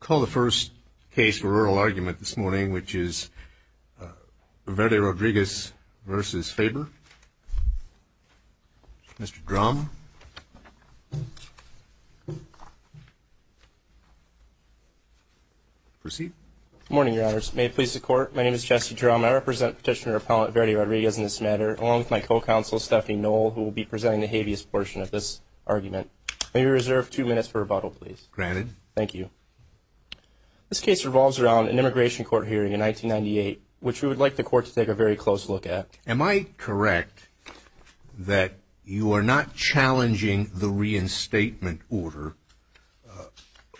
Call the first case for oral argument this morning, which is Verde-Rodriguez v. Faber. Mr. Drum. Proceed. Good morning, Your Honors. May it please the Court, my name is Jesse Drum. I represent Petitioner-Appellant Verde-Rodriguez in this matter, along with my co-counsel, Stephanie Knoll, who will be presenting the habeas portion of this argument. May we reserve two minutes for rebuttal, please? Granted. Thank you. This case revolves around an immigration court hearing in 1998, which we would like the Court to take a very close look at. Am I correct that you are not challenging the reinstatement order,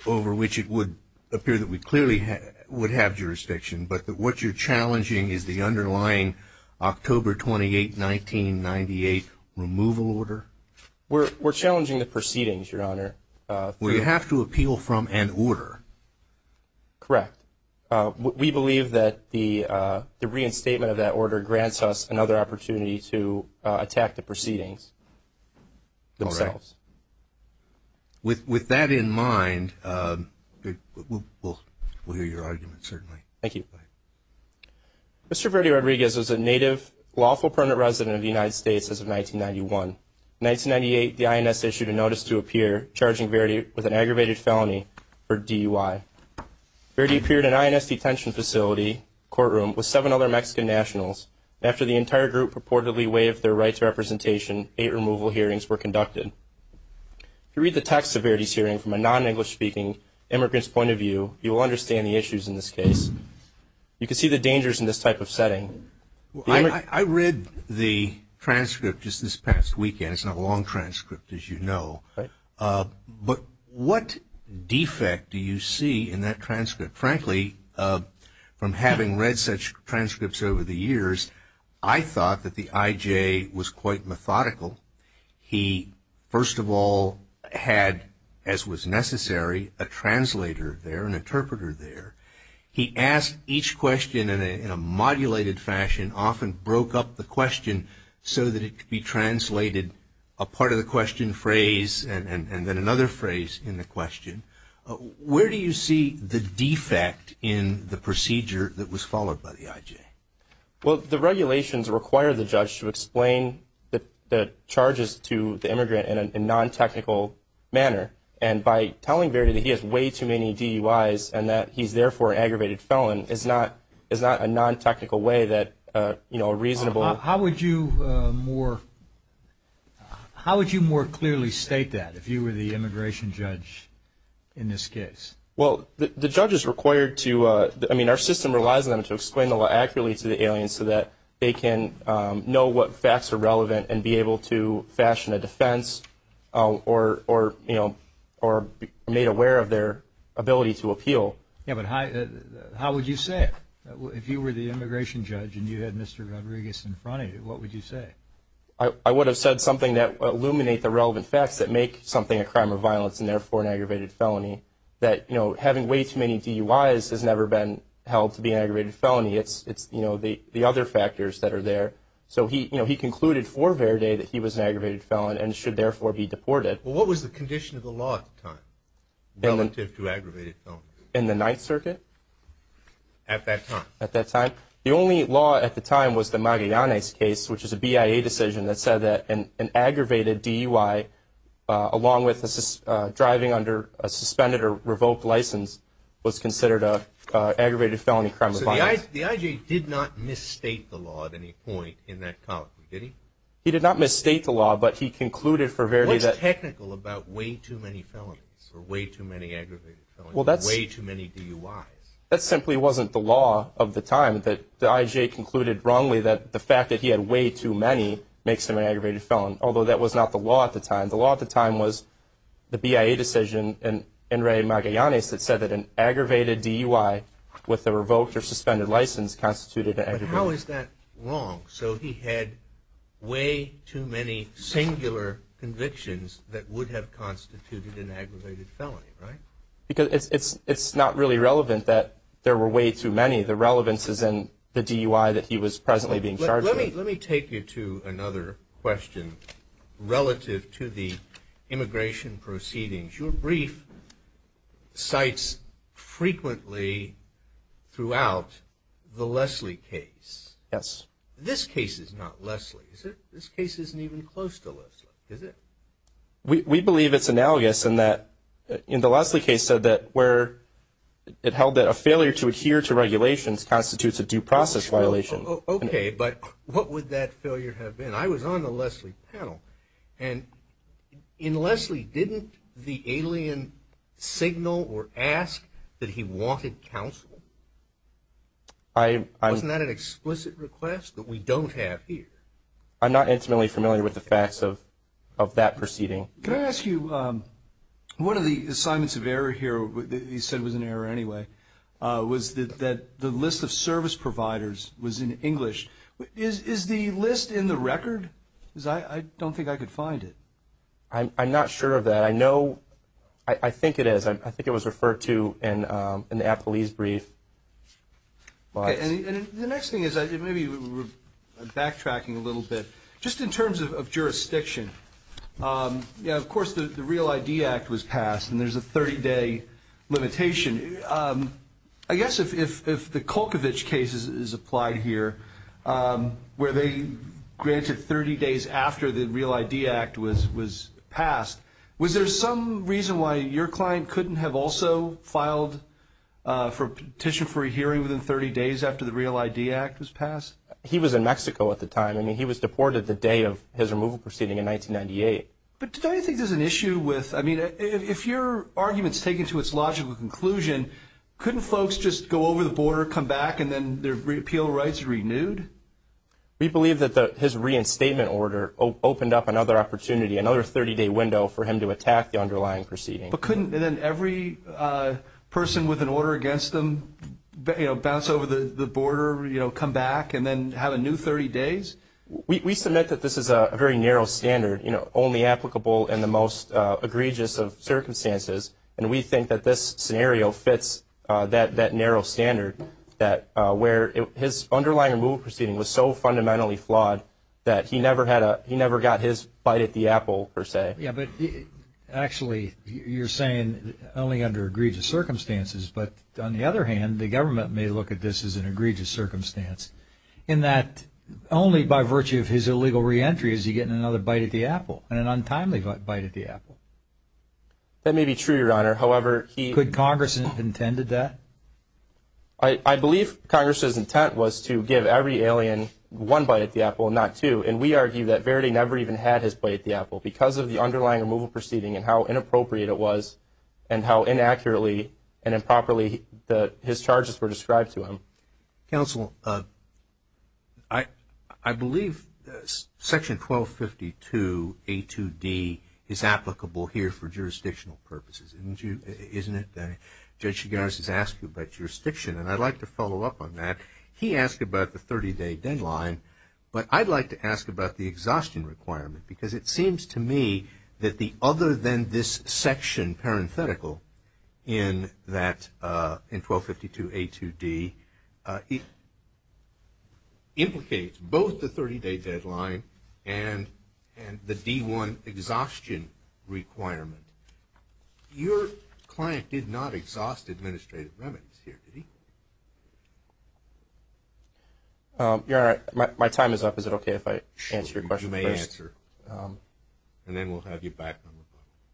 over which it would appear that we clearly would have jurisdiction, but that what you're challenging is the underlying October 28, 1998, removal order? We're challenging the proceedings, Your Honor. Well, you have to appeal from an order. Correct. We believe that the reinstatement of that order grants us another opportunity to attack the proceedings themselves. With that in mind, we'll hear your argument, certainly. Thank you. Mr. Verde-Rodriguez was a native lawful permanent resident of the United States as of 1991. In 1998, the INS issued a notice to appear, charging Verde with an aggravated felony for DUI. Verde appeared in an INS detention facility courtroom with seven other Mexican nationals. After the entire group purportedly waived their rights of representation, eight removal hearings were conducted. If you read the text of Verde's hearing from a non-English speaking immigrant's point of view, you will understand the issues in this case. You can see the dangers in this type of setting. I read the transcript just this past weekend. It's not a long transcript, as you know. But what defect do you see in that transcript? Frankly, from having read such transcripts over the years, I thought that the IJ was quite methodical. He, first of all, had, as was necessary, a translator there, an interpreter there. He asked each question in a modulated fashion, often broke up the question so that it could be translated, a part of the question phrase and then another phrase in the question. Where do you see the defect in the procedure that was followed by the IJ? Well, the regulations require the judge to explain the charges to the immigrant in a non-technical manner. And by telling Verde that he has way too many DUIs and that he's therefore an aggravated felon is not a non-technical way that a reasonable How would you more clearly state that if you were the immigration judge in this case? Well, the judge is required to, I mean, our system relies on them to explain the law accurately to the aliens so that they can know what facts are relevant and be able to fashion a defense or, you know, or be made aware of their ability to appeal. Yeah, but how would you say it? If you were the immigration judge and you had Mr. Rodriguez in front of you, what would you say? I would have said something that would illuminate the relevant facts that make something a crime of violence and therefore an aggravated felony. That, you know, having way too many DUIs has never been held to be an aggravated felony. It's, you know, the other factors that are there. So he, you know, he concluded for Verde that he was an aggravated felon and should therefore be deported. Well, what was the condition of the law at the time relative to aggravated felonies? In the Ninth Circuit? At that time. At that time. The only law at the time was the Magallanes case, which is a BIA decision that said that an aggravated DUI, along with driving under a suspended or revoked license, was considered an aggravated felony crime of violence. So the IJ did not misstate the law at any point in that column, did he? He did not misstate the law, but he concluded for Verde that- What's technical about way too many felonies or way too many aggravated felonies or way too many DUIs? That simply wasn't the law of the time, that the IJ concluded wrongly that the fact that he had way too many makes him an aggravated felon, although that was not the law at the time. The law at the time was the BIA decision and Enrique Magallanes that said that an aggravated DUI with a revoked or suspended license constituted an aggravated felony. But how is that wrong? So he had way too many singular convictions that would have constituted an aggravated felony, right? Because it's not really relevant that there were way too many. The relevance is in the DUI that he was presently being charged with. Let me take you to another question relative to the immigration proceedings. Your brief cites frequently throughout the Leslie case. Yes. This case is not Leslie, is it? This case isn't even close to Leslie, is it? We believe it's analogous in that in the Leslie case said that where it held that a failure to adhere to regulations constitutes a due process violation. Okay. But what would that failure have been? I was on the Leslie panel. And in Leslie, didn't the alien signal or ask that he wanted counsel? Wasn't that an explicit request that we don't have here? I'm not intimately familiar with the facts of that proceeding. Can I ask you, one of the assignments of error here, you said was an error anyway, was that the list of service providers was in English. Is the list in the record? Because I don't think I could find it. I'm not sure of that. I know ‑‑ I think it is. I think it was referred to in the appellee's brief. Okay. And the next thing is maybe we're backtracking a little bit. Just in terms of jurisdiction, yeah, of course, the Real ID Act was passed, and there's a 30‑day limitation. I guess if the Kulkovich case is applied here, where they granted 30 days after the Real ID Act was passed, was there some reason why your client couldn't have also filed for petition for a hearing within 30 days after the Real ID Act was passed? He was in Mexico at the time. I mean, he was deported the day of his removal proceeding in 1998. But don't you think there's an issue with ‑‑ I mean, if your argument's taken to its logical conclusion, couldn't folks just go over the border, come back, and then their appeal rights renewed? We believe that his reinstatement order opened up another opportunity, another 30‑day window, for him to attack the underlying proceeding. But couldn't then every person with an order against them bounce over the border, come back, and then have a new 30 days? We submit that this is a very narrow standard, only applicable in the most egregious of circumstances, and we think that this scenario fits that narrow standard, where his underlying removal proceeding was so fundamentally flawed that he never got his bite at the apple, per se. Yeah, but actually, you're saying only under egregious circumstances, but on the other hand, the government may look at this as an egregious circumstance, in that only by virtue of his illegal reentry is he getting another bite at the apple, an untimely bite at the apple. That may be true, Your Honor, however, he... Could Congress have intended that? I believe Congress's intent was to give every alien one bite at the apple, not two, and we argue that Verity never even had his bite at the apple, because of the underlying removal proceeding and how inappropriate it was, and how inaccurately and improperly his charges were described to him. Counsel, I believe Section 1252A2D is applicable here for jurisdictional purposes, isn't it? Judge Chigaris has asked you about jurisdiction, and I'd like to follow up on that. He asked about the 30-day deadline, but I'd like to ask about the exhaustion requirement, because it seems to me that the other than this section, parenthetical, in 1252A2D, it implicates both the 30-day deadline and the D-1 exhaustion requirement. Your client did not exhaust administrative remedies here, did he? Your Honor, my time is up. Is it okay if I answer your question first? You may answer, and then we'll have you back.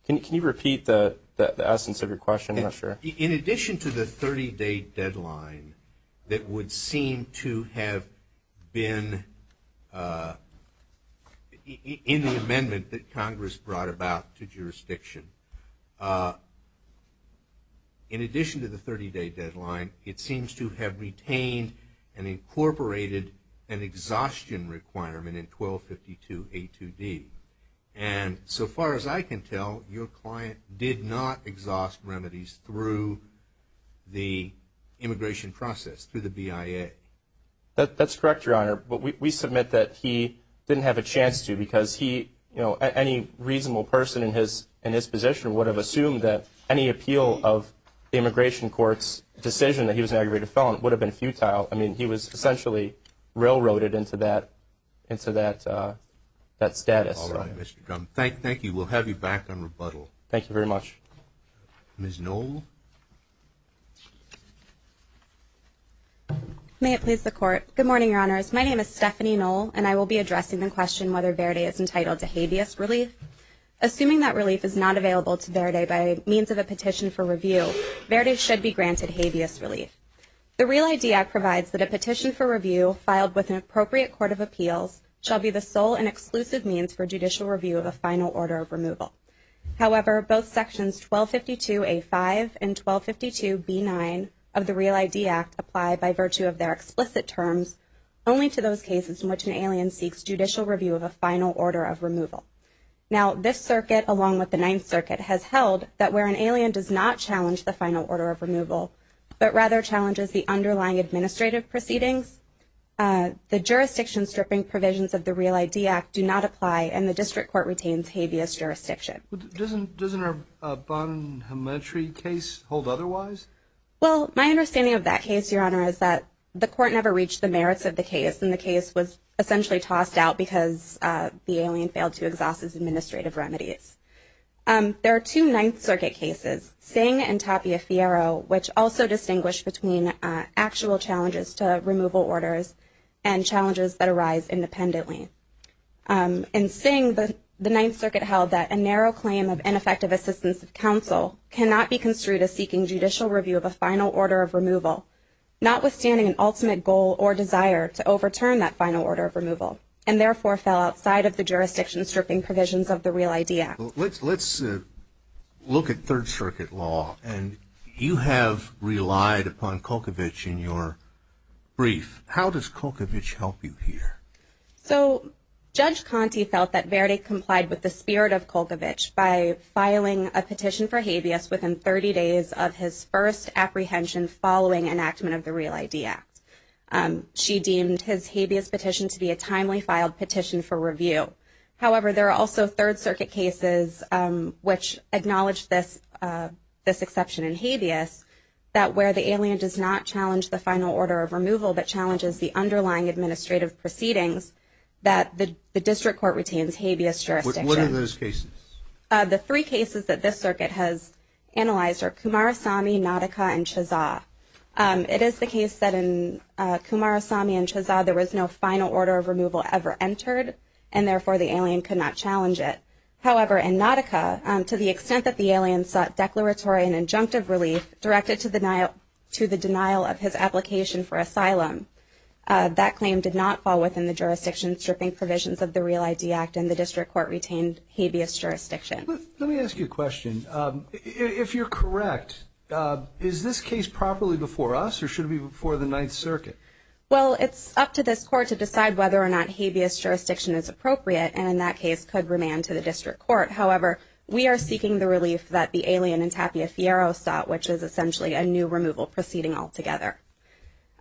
Can you repeat the essence of your question? I'm not sure. In addition to the 30-day deadline that would seem to have been in the amendment that Congress brought about to jurisdiction, in addition to the 30-day deadline, it seems to have retained and incorporated an exhaustion requirement in 1252A2D. And so far as I can tell, your client did not exhaust remedies through the immigration process, through the BIA. That's correct, Your Honor. But we submit that he didn't have a chance to, because any reasonable person in his position would have assumed that any appeal of the immigration court's decision that he was an aggravated felon would have been futile. I mean, he was essentially railroaded into that status. All right, Mr. Drum. Thank you. We'll have you back on rebuttal. Thank you very much. Ms. Noll? May it please the Court. Good morning, Your Honors. My name is Stephanie Noll, and I will be addressing the question whether Verde is entitled to habeas relief. Assuming that relief is not available to Verde by means of a petition for review, Verde should be granted habeas relief. The Real ID Act provides that a petition for review filed with an appropriate court of appeals shall be the sole and exclusive means for judicial review of a final order of removal. However, both Sections 1252A5 and 1252B9 of the Real ID Act apply by virtue of their explicit terms only to those cases in which an alien seeks judicial review of a final order of removal. Now, this circuit, along with the Ninth Circuit, has held that where an alien does not challenge the final order of removal but rather challenges the underlying administrative proceedings, the jurisdiction stripping provisions of the Real ID Act do not apply, and the District Court retains habeas jurisdiction. Doesn't our Bonhametry case hold otherwise? Well, my understanding of that case, Your Honor, is that the Court never reached the merits of the case, and the case was essentially tossed out because the alien failed to exhaust his administrative remedies. There are two Ninth Circuit cases, Singh and Tapia-Fiero, which also distinguish between actual challenges to removal orders and challenges that arise independently. In Singh, the Ninth Circuit held that a narrow claim of ineffective assistance of counsel cannot be construed as seeking judicial review of a final order of removal, notwithstanding an ultimate goal or desire to overturn that final order of removal, and therefore fell outside of the jurisdiction stripping provisions of the Real ID Act. Let's look at Third Circuit law, and you have relied upon Kulkovich in your brief. How does Kulkovich help you here? So Judge Conte felt that Verdi complied with the spirit of Kulkovich by filing a petition for habeas within 30 days of his first apprehension following enactment of the Real ID Act. She deemed his habeas petition to be a timely filed petition for review. However, there are also Third Circuit cases which acknowledge this exception in habeas, that where the alien does not challenge the final order of removal, but challenges the underlying administrative proceedings, that the district court retains habeas jurisdiction. What are those cases? The three cases that this circuit has analyzed are Kumarasamy, Nautica, and Chaza. It is the case that in Kumarasamy and Chaza, there was no final order of removal ever entered, and therefore the alien could not challenge it. However, in Nautica, to the extent that the alien sought declaratory and injunctive relief directed to the denial of his application for asylum, that claim did not fall within the jurisdiction stripping provisions of the Real ID Act, and the district court retained habeas jurisdiction. Let me ask you a question. If you're correct, is this case properly before us, or should it be before the Ninth Circuit? Well, it's up to this court to decide whether or not habeas jurisdiction is appropriate, and in that case, could remand to the district court. However, we are seeking the relief that the alien in Tapia Fierro sought, which is essentially a new removal proceeding altogether.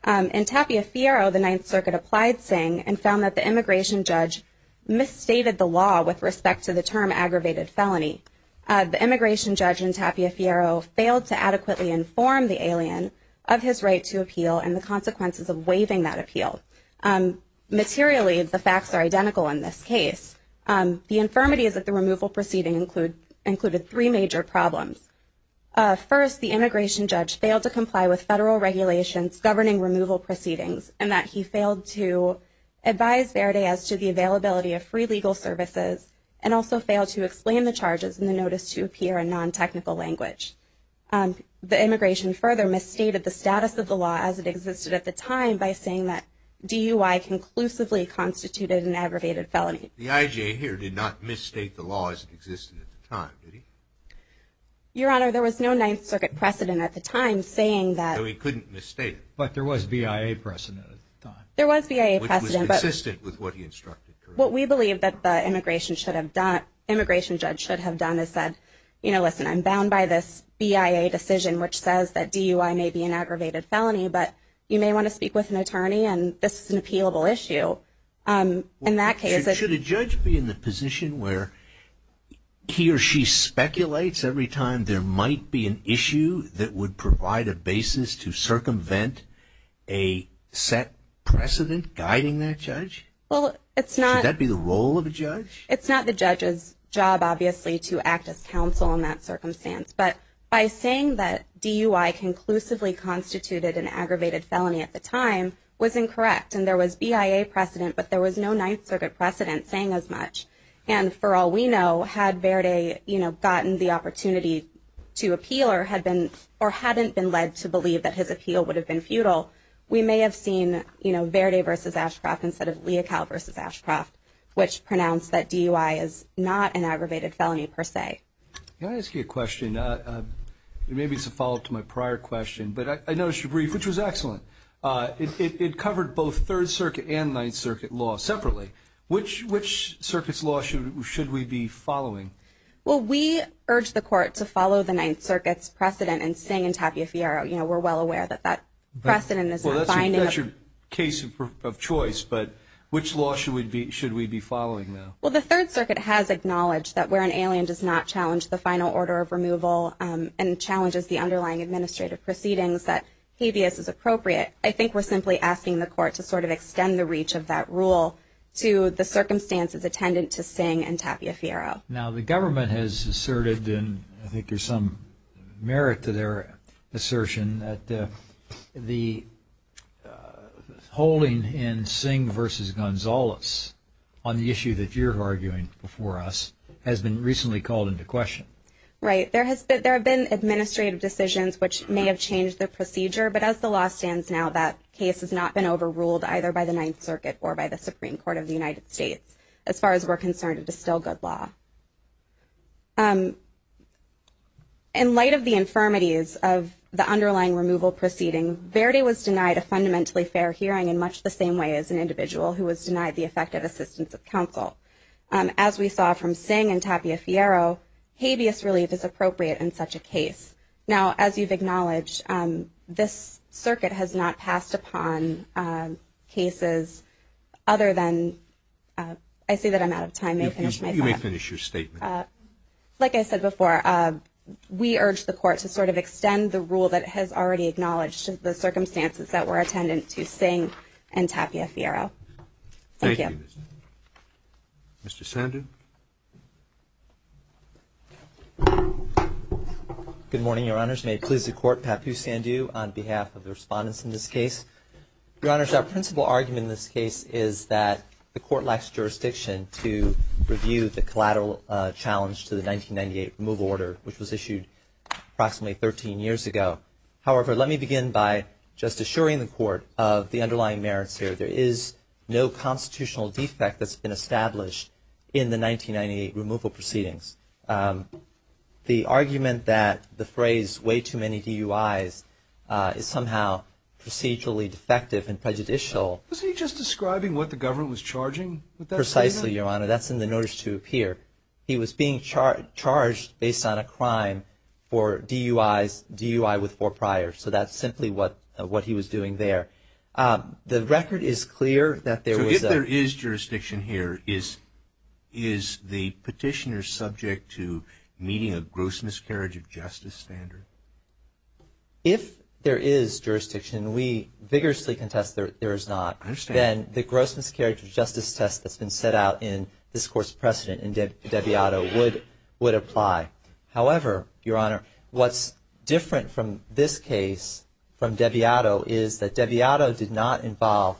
In Tapia Fierro, the Ninth Circuit applied Tsing, and found that the immigration judge misstated the law with respect to the term aggravated felony. The immigration judge in Tapia Fierro failed to adequately inform the alien of his right to appeal and the consequences of waiving that appeal. Materially, the facts are identical in this case. The infirmities of the removal proceeding included three major problems. First, the immigration judge failed to comply with federal regulations governing removal proceedings, and that he failed to advise Verde as to the availability of free legal services, and also failed to explain the charges in the notice to appear in non-technical language. The immigration further misstated the status of the law as it existed at the time by saying that DUI conclusively constituted an aggravated felony. The IJ here did not misstate the law as it existed at the time, did he? Your Honor, there was no Ninth Circuit precedent at the time saying that. So he couldn't misstate it. But there was BIA precedent at the time. There was BIA precedent. Which was consistent with what he instructed, correct? What we believe that the immigration judge should have done is said, you know, listen, I'm bound by this BIA decision, which says that DUI may be an aggravated felony, but you may want to speak with an attorney and this is an appealable issue. In that case, Should a judge be in the position where he or she speculates every time there might be an issue that would provide a basis to circumvent a set precedent guiding that judge? Well, it's not. Should that be the role of a judge? It's not the judge's job, obviously, to act as counsel in that circumstance. But by saying that DUI conclusively constituted an aggravated felony at the time was incorrect. And there was BIA precedent, but there was no Ninth Circuit precedent saying as much. And for all we know, had Verde, you know, gotten the opportunity to appeal or hadn't been led to believe that his appeal would have been futile, we may have seen, you know, Verde versus Ashcroft instead of Leocal versus Ashcroft, which pronounced that DUI is not an aggravated felony per se. Can I ask you a question? Maybe it's a follow-up to my prior question, but I noticed your brief, which was excellent. It covered both Third Circuit and Ninth Circuit law separately. Which Circuit's law should we be following? Well, we urge the court to follow the Ninth Circuit's precedent and sing in Tapia Fierro. You know, we're well aware that that precedent is not binding. Well, that's your case of choice. But which law should we be following now? Well, the Third Circuit has acknowledged that where an alien does not challenge the final order of removal and challenges the underlying administrative proceedings, that habeas is appropriate. I think we're simply asking the court to sort of extend the reach of that rule to the circumstances attendant to sing in Tapia Fierro. Now, the government has asserted, and I think there's some merit to their assertion, that the holding in Singh v. Gonzalez on the issue that you're arguing before us has been recently called into question. Right. There have been administrative decisions which may have changed the procedure, but as the law stands now, that case has not been overruled either by the Ninth Circuit or by the Supreme Court of the United States as far as we're concerned. It is still good law. In light of the infirmities of the underlying removal proceeding, Verde was denied a fundamentally fair hearing in much the same way as an individual who was denied the effective assistance of counsel. As we saw from Singh and Tapia Fierro, habeas relief is appropriate in such a case. Now, as you've acknowledged, this circuit has not passed upon cases other than – I say that I'm out of time. You may finish your statement. Like I said before, we urge the Court to sort of extend the rule that has already acknowledged the circumstances that were attendant to Singh and Tapia Fierro. Thank you. Mr. Sandhu. Good morning, Your Honors. May it please the Court, Papu Sandhu on behalf of the respondents in this case. Your Honors, our principal argument in this case is that the Court lacks jurisdiction to review the collateral challenge to the 1998 removal order, which was issued approximately 13 years ago. However, let me begin by just assuring the Court of the underlying merits here. There is no constitutional defect that's been established in the 1998 removal proceedings. The argument that the phrase, way too many DUIs, is somehow procedurally defective and prejudicial. Was he just describing what the government was charging with that statement? Precisely, Your Honor. That's in the notice to appear. He was being charged based on a crime for DUIs, DUI with four priors. So that's simply what he was doing there. The record is clear that there was a – If there is jurisdiction, we vigorously contest that there is not. I understand. Then the gross miscarriage of justice test that's been set out in this Court's precedent in Debiato would apply. However, Your Honor, what's different from this case, from Debiato, is that Debiato did not involve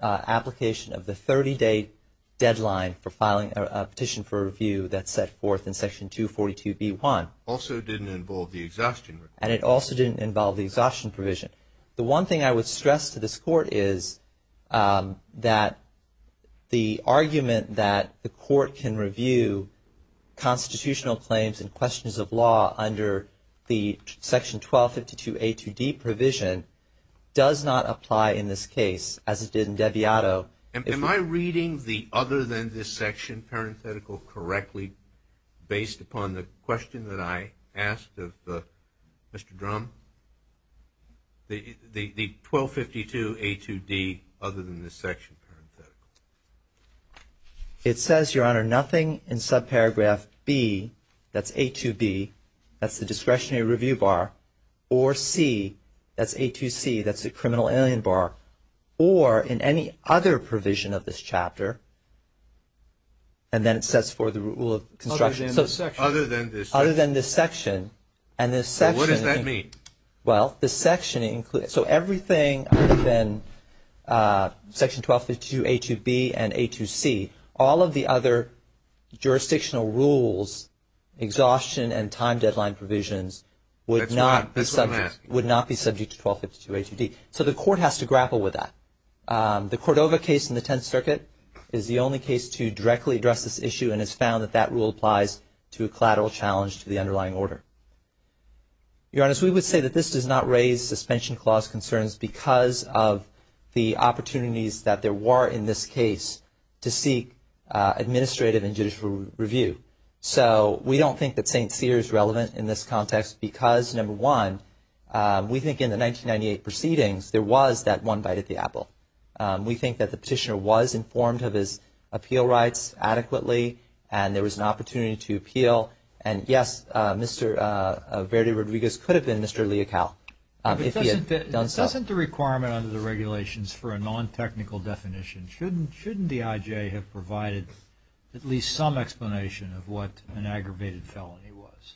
application of the 30-day deadline for filing a petition for review that's set forth in Section 242B1. Also didn't involve the exhaustion. And it also didn't involve the exhaustion provision. The one thing I would stress to this Court is that the argument that the Court can review constitutional claims and questions of law under the Section 1252A2D provision does not apply in this case as it did in Debiato. Am I reading the other than this section parenthetical correctly based upon the question that I asked of Mr. Drum? The 1252A2D other than this section parenthetical. It says, Your Honor, nothing in subparagraph B, that's A2B, that's the discretionary review bar, or C, that's A2C, that's the criminal alien bar, or in any other provision of this chapter, and then it sets forth the rule of construction. Other than this section. Other than this section. So what does that mean? Well, the section includes, so everything other than Section 1252A2B and A2C, all of the other jurisdictional rules, exhaustion and time deadline provisions would not be subject to 1252A2D. So the Court has to grapple with that. The Cordova case in the Tenth Circuit is the only case to directly address this issue and has found that that rule applies to a collateral challenge to the underlying order. Your Honor, so we would say that this does not raise suspension clause concerns because of the opportunities that there were in this case to seek administrative and judicial review. So we don't think that St. Cyr is relevant in this context because, number one, we think in the 1998 proceedings there was that one bite at the apple. We think that the petitioner was informed of his appeal rights adequately and there was an opportunity to appeal. And, yes, Mr. Verdi-Rodriguez could have been Mr. Leocal if he had done so. But doesn't the requirement under the regulations for a non-technical definition, shouldn't the IJ have provided at least some explanation of what an aggravated felony was?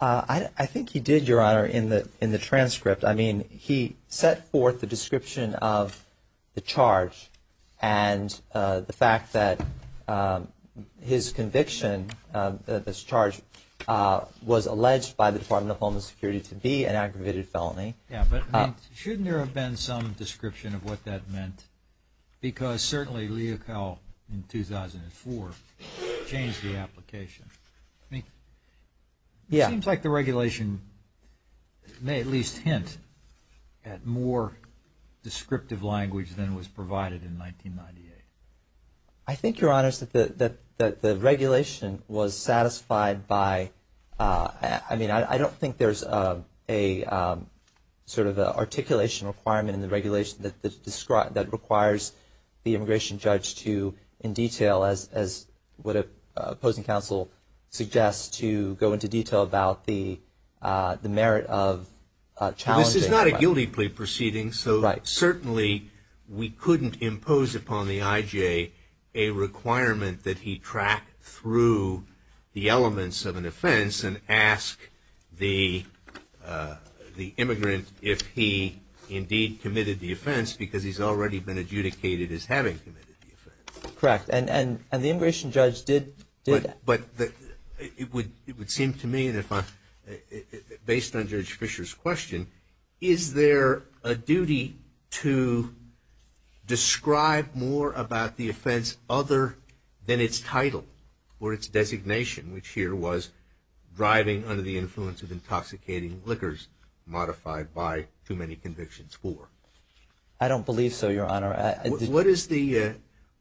I think he did, Your Honor, in the transcript. I mean, he set forth the description of the charge and the fact that his conviction of this charge was alleged by the Department of Homeland Security to be an aggravated felony. Yes, but shouldn't there have been some description of what that meant? Because certainly Leocal in 2004 changed the application. I mean, it seems like the regulation may at least hint at more descriptive language than was provided in 1998. I think, Your Honors, that the regulation was satisfied by, I mean, I don't think there's a sort of articulation requirement in the regulation that requires the immigration judge to, in detail, as would an opposing counsel suggest, to go into detail about the merit of challenging. This is not a guilty plea proceeding, so certainly we couldn't impose upon the IJ a requirement that he track through the elements of an offense and ask the immigrant if he indeed committed the offense because he's already been adjudicated as having committed the offense. Correct, and the immigration judge did that. But it would seem to me, based on Judge Fisher's question, is there a duty to describe more about the offense other than its title or its designation, which here was driving under the influence of intoxicating liquors modified by too many convictions for? I don't believe so, Your Honor.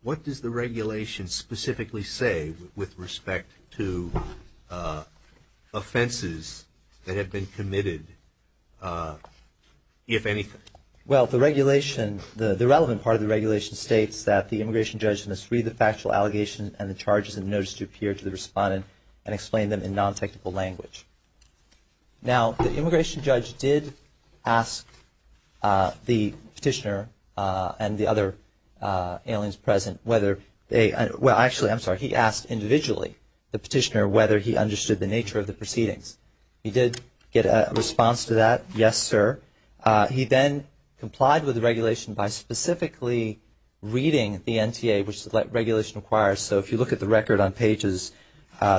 What does the regulation specifically say with respect to offenses that have been committed, if anything? Well, the regulation, the relevant part of the regulation, states that the immigration judge must read the factual allegation and the charges in the notice to appear to the respondent and explain them in non-technical language. Now, the immigration judge did ask the petitioner and the other aliens present whether they – well, actually, I'm sorry, he asked individually, the petitioner, whether he understood the nature of the proceedings. He did get a response to that, yes, sir. He then complied with the regulation by specifically reading the NTA, which the regulation requires. So if you look at the record on pages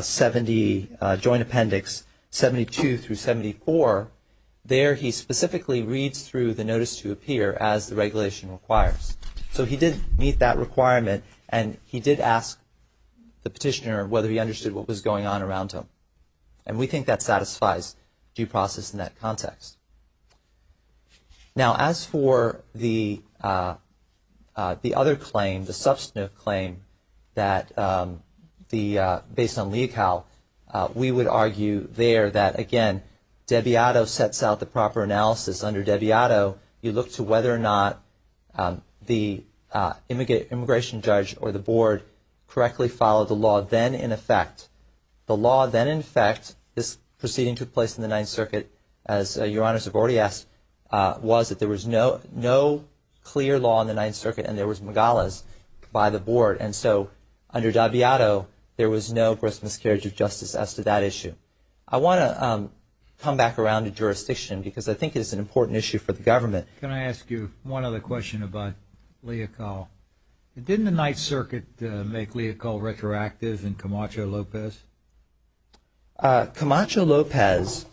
70, Joint Appendix 72 through 74, there he specifically reads through the notice to appear as the regulation requires. So he did meet that requirement, and he did ask the petitioner whether he understood what was going on around him. And we think that satisfies due process in that context. Now, as for the other claim, the substantive claim that the – based on LEACAL, we would argue there that, again, Deviato sets out the proper analysis. Under Deviato, you look to whether or not the immigration judge or the board correctly followed the law, then in effect – the law then in effect, this proceeding took place in the Ninth Circuit, as Your Honors have already asked, was that there was no clear law in the Ninth Circuit, and there was Megales by the board. And so under Deviato, there was no grisly miscarriage of justice as to that issue. I want to come back around to jurisdiction because I think it's an important issue for the government. Can I ask you one other question about LEACAL? Didn't the Ninth Circuit make LEACAL retroactive in Camacho-Lopez? Camacho-Lopez,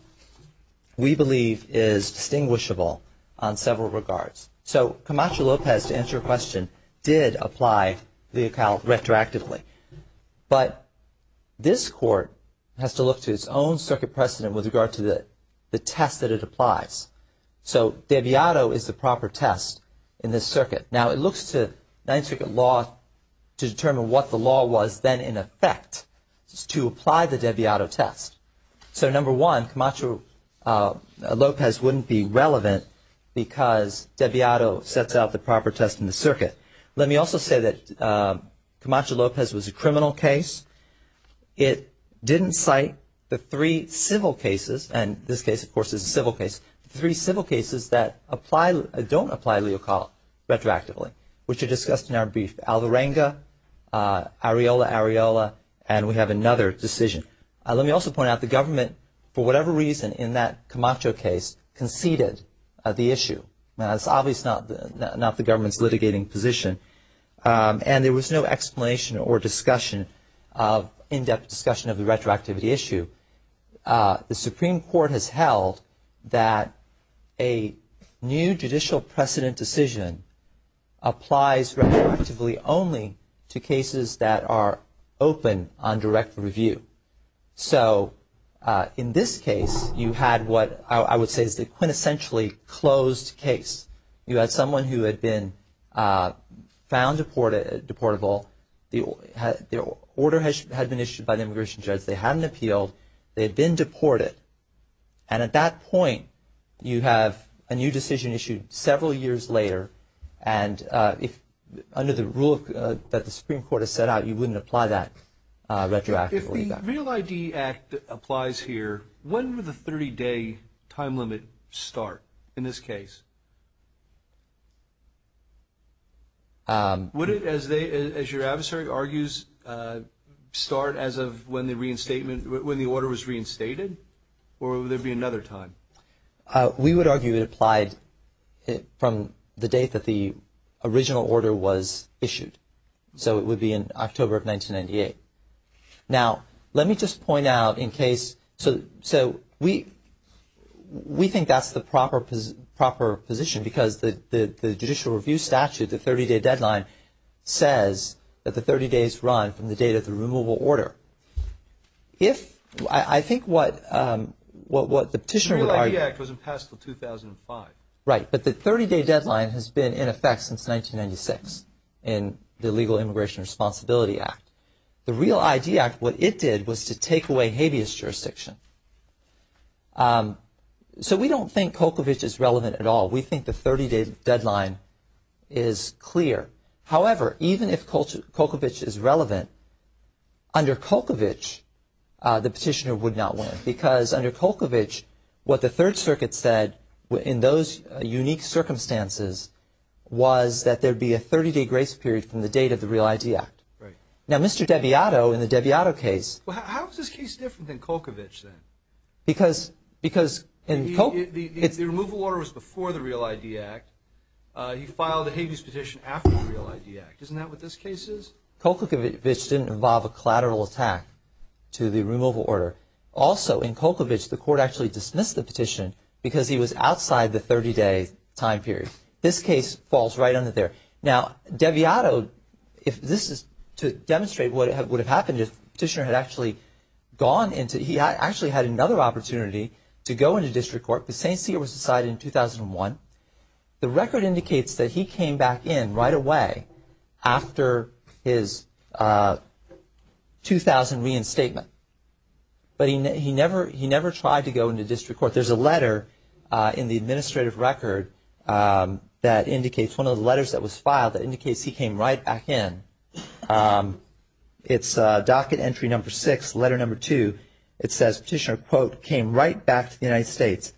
we believe, is distinguishable on several regards. So Camacho-Lopez, to answer your question, did apply LEACAL retroactively. But this Court has to look to its own circuit precedent with regard to the test that it applies. So Deviato is the proper test in this circuit. Now, it looks to Ninth Circuit law to determine what the law was then in effect to apply the Deviato test. So number one, Camacho-Lopez wouldn't be relevant because Deviato sets out the proper test in the circuit. Let me also say that Camacho-Lopez was a criminal case. It didn't cite the three civil cases – and this case, of course, is a civil case – three civil cases that don't apply LEACAL retroactively, which are discussed in our brief. Alvarenga, Areola-Areola, and we have another decision. Let me also point out the government, for whatever reason, in that Camacho case, conceded the issue. Now, that's obviously not the government's litigating position. And there was no explanation or discussion, in-depth discussion, of the retroactivity issue. The Supreme Court has held that a new judicial precedent decision applies retroactively only to cases that are open on direct review. So in this case, you had what I would say is the quintessentially closed case. You had someone who had been found deportable. The order had been issued by the immigration judge. They hadn't appealed. They had been deported. And at that point, you have a new decision issued several years later, and under the rule that the Supreme Court has set out, you wouldn't apply that retroactively. If the REAL ID Act applies here, when would the 30-day time limit start in this case? Would it, as your adversary argues, start as of when the order was reinstated, or would there be another time? We would argue it applied from the date that the original order was issued. So it would be in October of 1998. Now, let me just point out in case – so we think that's the proper position because the judicial review statute, the 30-day deadline, says that the 30 days run from the date of the removal order. If – I think what the petitioner would argue – The REAL ID Act wasn't passed until 2005. Right, but the 30-day deadline has been in effect since 1996 in the Legal Immigration Responsibility Act. The REAL ID Act, what it did was to take away habeas jurisdiction. So we don't think Kokovich is relevant at all. We think the 30-day deadline is clear. However, even if Kokovich is relevant, under Kokovich, the petitioner would not win because under Kokovich, what the Third Circuit said in those unique circumstances was that there would be a 30-day grace period from the date of the REAL ID Act. Right. Now, Mr. Debiato in the Debiato case – Well, how is this case different than Kokovich then? Because in Kokovich – The removal order was before the REAL ID Act. He filed a habeas petition after the REAL ID Act. Isn't that what this case is? Kokovich didn't involve a collateral attack to the removal order. Also, in Kokovich, the court actually dismissed the petition because he was outside the 30-day time period. This case falls right under there. Now, Debiato – This is to demonstrate what would have happened if the petitioner had actually gone into – He actually had another opportunity to go into district court. The same seat was decided in 2001. The record indicates that he came back in right away after his 2000 reinstatement. But he never tried to go into district court. There's a letter in the administrative record that indicates – one of the letters that was filed that indicates he came right back in. It's docket entry number six, letter number two. It says petitioner, quote, came right back to the United States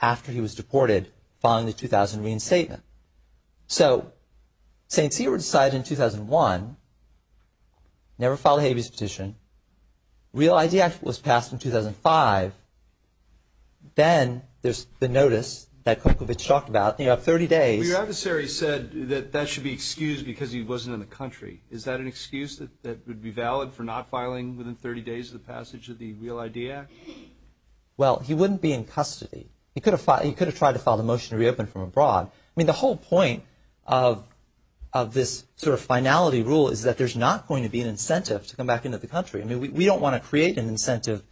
after he was deported following the 2000 reinstatement. So St. Cyr was decided in 2001, never filed a habeas petition. REAL ID Act was passed in 2005. Then there's the notice that Kokovich talked about. You have 30 days. Well, your adversary said that that should be excused because he wasn't in the country. Is that an excuse that would be valid for not filing within 30 days of the passage of the REAL ID Act? Well, he wouldn't be in custody. He could have tried to file the motion to reopen from abroad. I mean, the whole point of this sort of finality rule is that there's not going to be an incentive to come back into the country. I mean, we don't want to create an incentive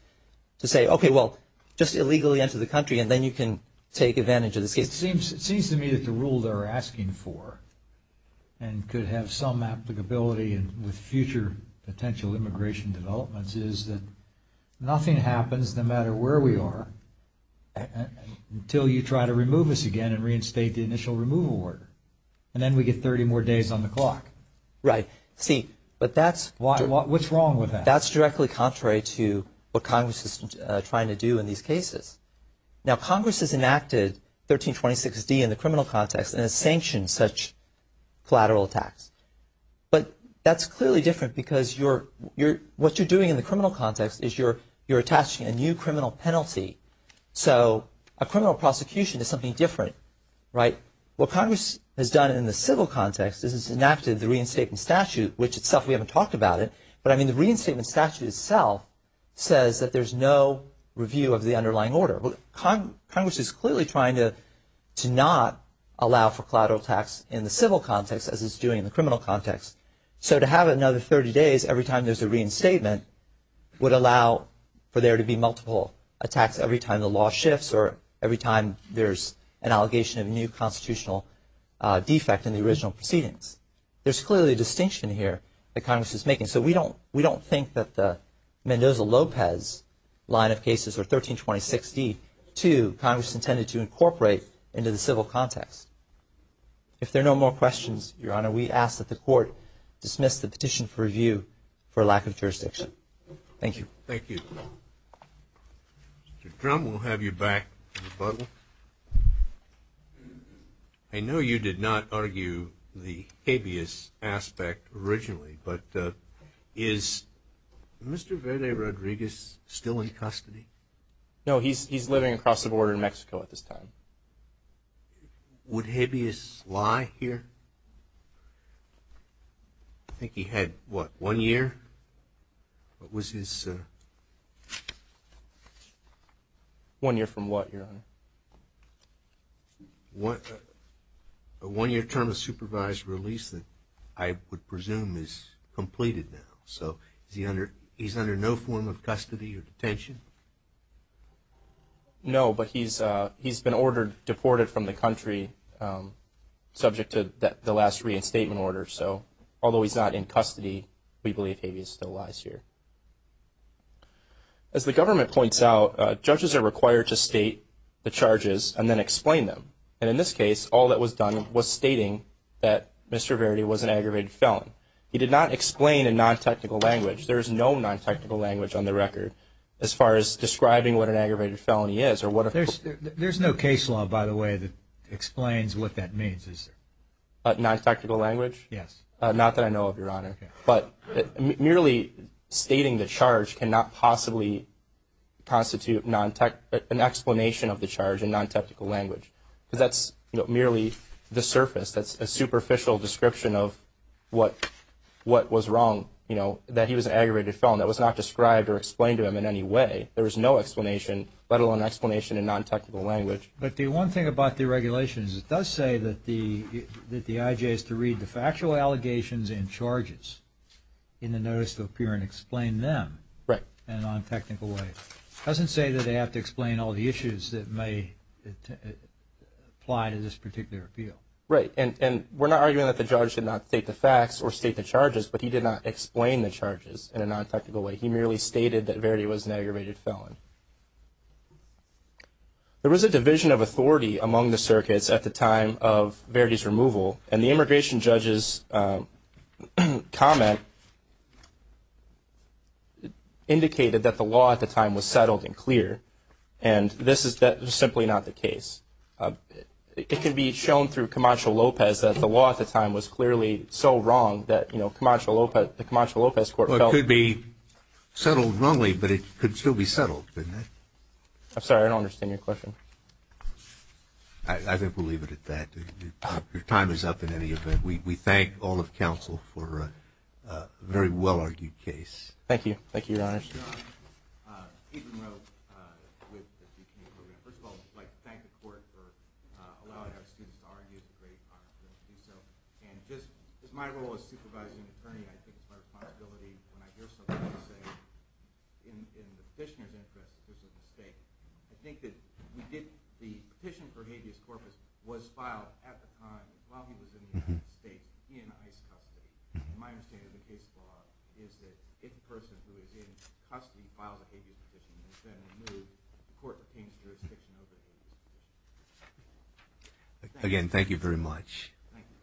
to say, okay, well, just illegally enter the country and then you can take advantage of this case. It seems to me that the rule they're asking for and could have some applicability with future potential immigration developments is that nothing happens no matter where we are until you try to remove us again and reinstate the initial removal order. And then we get 30 more days on the clock. Right. See, but that's- What's wrong with that? That's directly contrary to what Congress is trying to do in these cases. Now, Congress has enacted 1326D in the criminal context and has sanctioned such collateral attacks. But that's clearly different because what you're doing in the criminal context is you're attaching a new criminal penalty. So a criminal prosecution is something different. Right. What Congress has done in the civil context is it's enacted the reinstatement statute, which itself we haven't talked about it. But, I mean, the reinstatement statute itself says that there's no review of the underlying order. Congress is clearly trying to not allow for collateral attacks in the civil context as it's doing in the criminal context. So to have another 30 days every time there's a reinstatement would allow for there to be multiple attacks every time the law shifts or every time there's an allegation of a new constitutional defect in the original proceedings. There's clearly a distinction here that Congress is making. So we don't think that the Mendoza-Lopez line of cases or 1326D, too, Congress intended to incorporate into the civil context. If there are no more questions, Your Honor, we ask that the Court dismiss the petition for review for lack of jurisdiction. Thank you. Thank you. Mr. Drumm, we'll have you back in the bubble. I know you did not argue the habeas aspect originally, but is Mr. Verde Rodriguez still in custody? No, he's living across the border in Mexico at this time. Would habeas lie here? I think he had, what, one year? What was his? One year from what, Your Honor? A one-year term of supervised release that I would presume is completed now. So he's under no form of custody or detention? No, but he's been ordered, deported from the country subject to the last reinstatement order. So although he's not in custody, we believe habeas still lies here. As the government points out, judges are required to state the charges and then explain them. And in this case, all that was done was stating that Mr. Verde was an aggravated felon. He did not explain in non-technical language. There is no non-technical language on the record as far as describing what an aggravated felony is. There's no case law, by the way, that explains what that means, is there? Non-technical language? Yes. Not that I know of, Your Honor. Okay. But merely stating the charge cannot possibly constitute an explanation of the charge in non-technical language because that's merely the surface, that's a superficial description of what was wrong, that he was an aggravated felon that was not described or explained to him in any way. There is no explanation, let alone explanation in non-technical language. But the one thing about the regulation is it does say that the IJ has to read the factual allegations and charges in the notice to appear and explain them in a non-technical way. It doesn't say that they have to explain all the issues that may apply to this particular appeal. Right. And we're not arguing that the judge did not state the facts or state the charges, but he did not explain the charges in a non-technical way. He merely stated that Verde was an aggravated felon. There was a division of authority among the circuits at the time of Verde's removal, and the immigration judge's comment indicated that the law at the time was settled and clear, and this is simply not the case. It can be shown through Camacho-Lopez that the law at the time was clearly so wrong that, you know, the Camacho-Lopez court felt it could be settled wrongly, but it could still be settled. I'm sorry, I don't understand your question. I think we'll leave it at that. Your time is up in any event. We thank all of counsel for a very well-argued case. Thank you. Thank you, Your Honors. Ethan Rowe with the DK program. First of all, I'd like to thank the court for allowing our students to argue. It's a great honor for them to do so. And just as my role as supervising attorney, I think it's my responsibility when I hear somebody say, in the petitioner's interest, there's a mistake. I think that the petition for habeas corpus was filed at the time while he was in the United States in ICE custody. My understanding of the case law is that if the person who is in custody files a habeas petition, it's then removed and the court obtains jurisdiction over the habeas petition. Again, thank you very much. Thank you.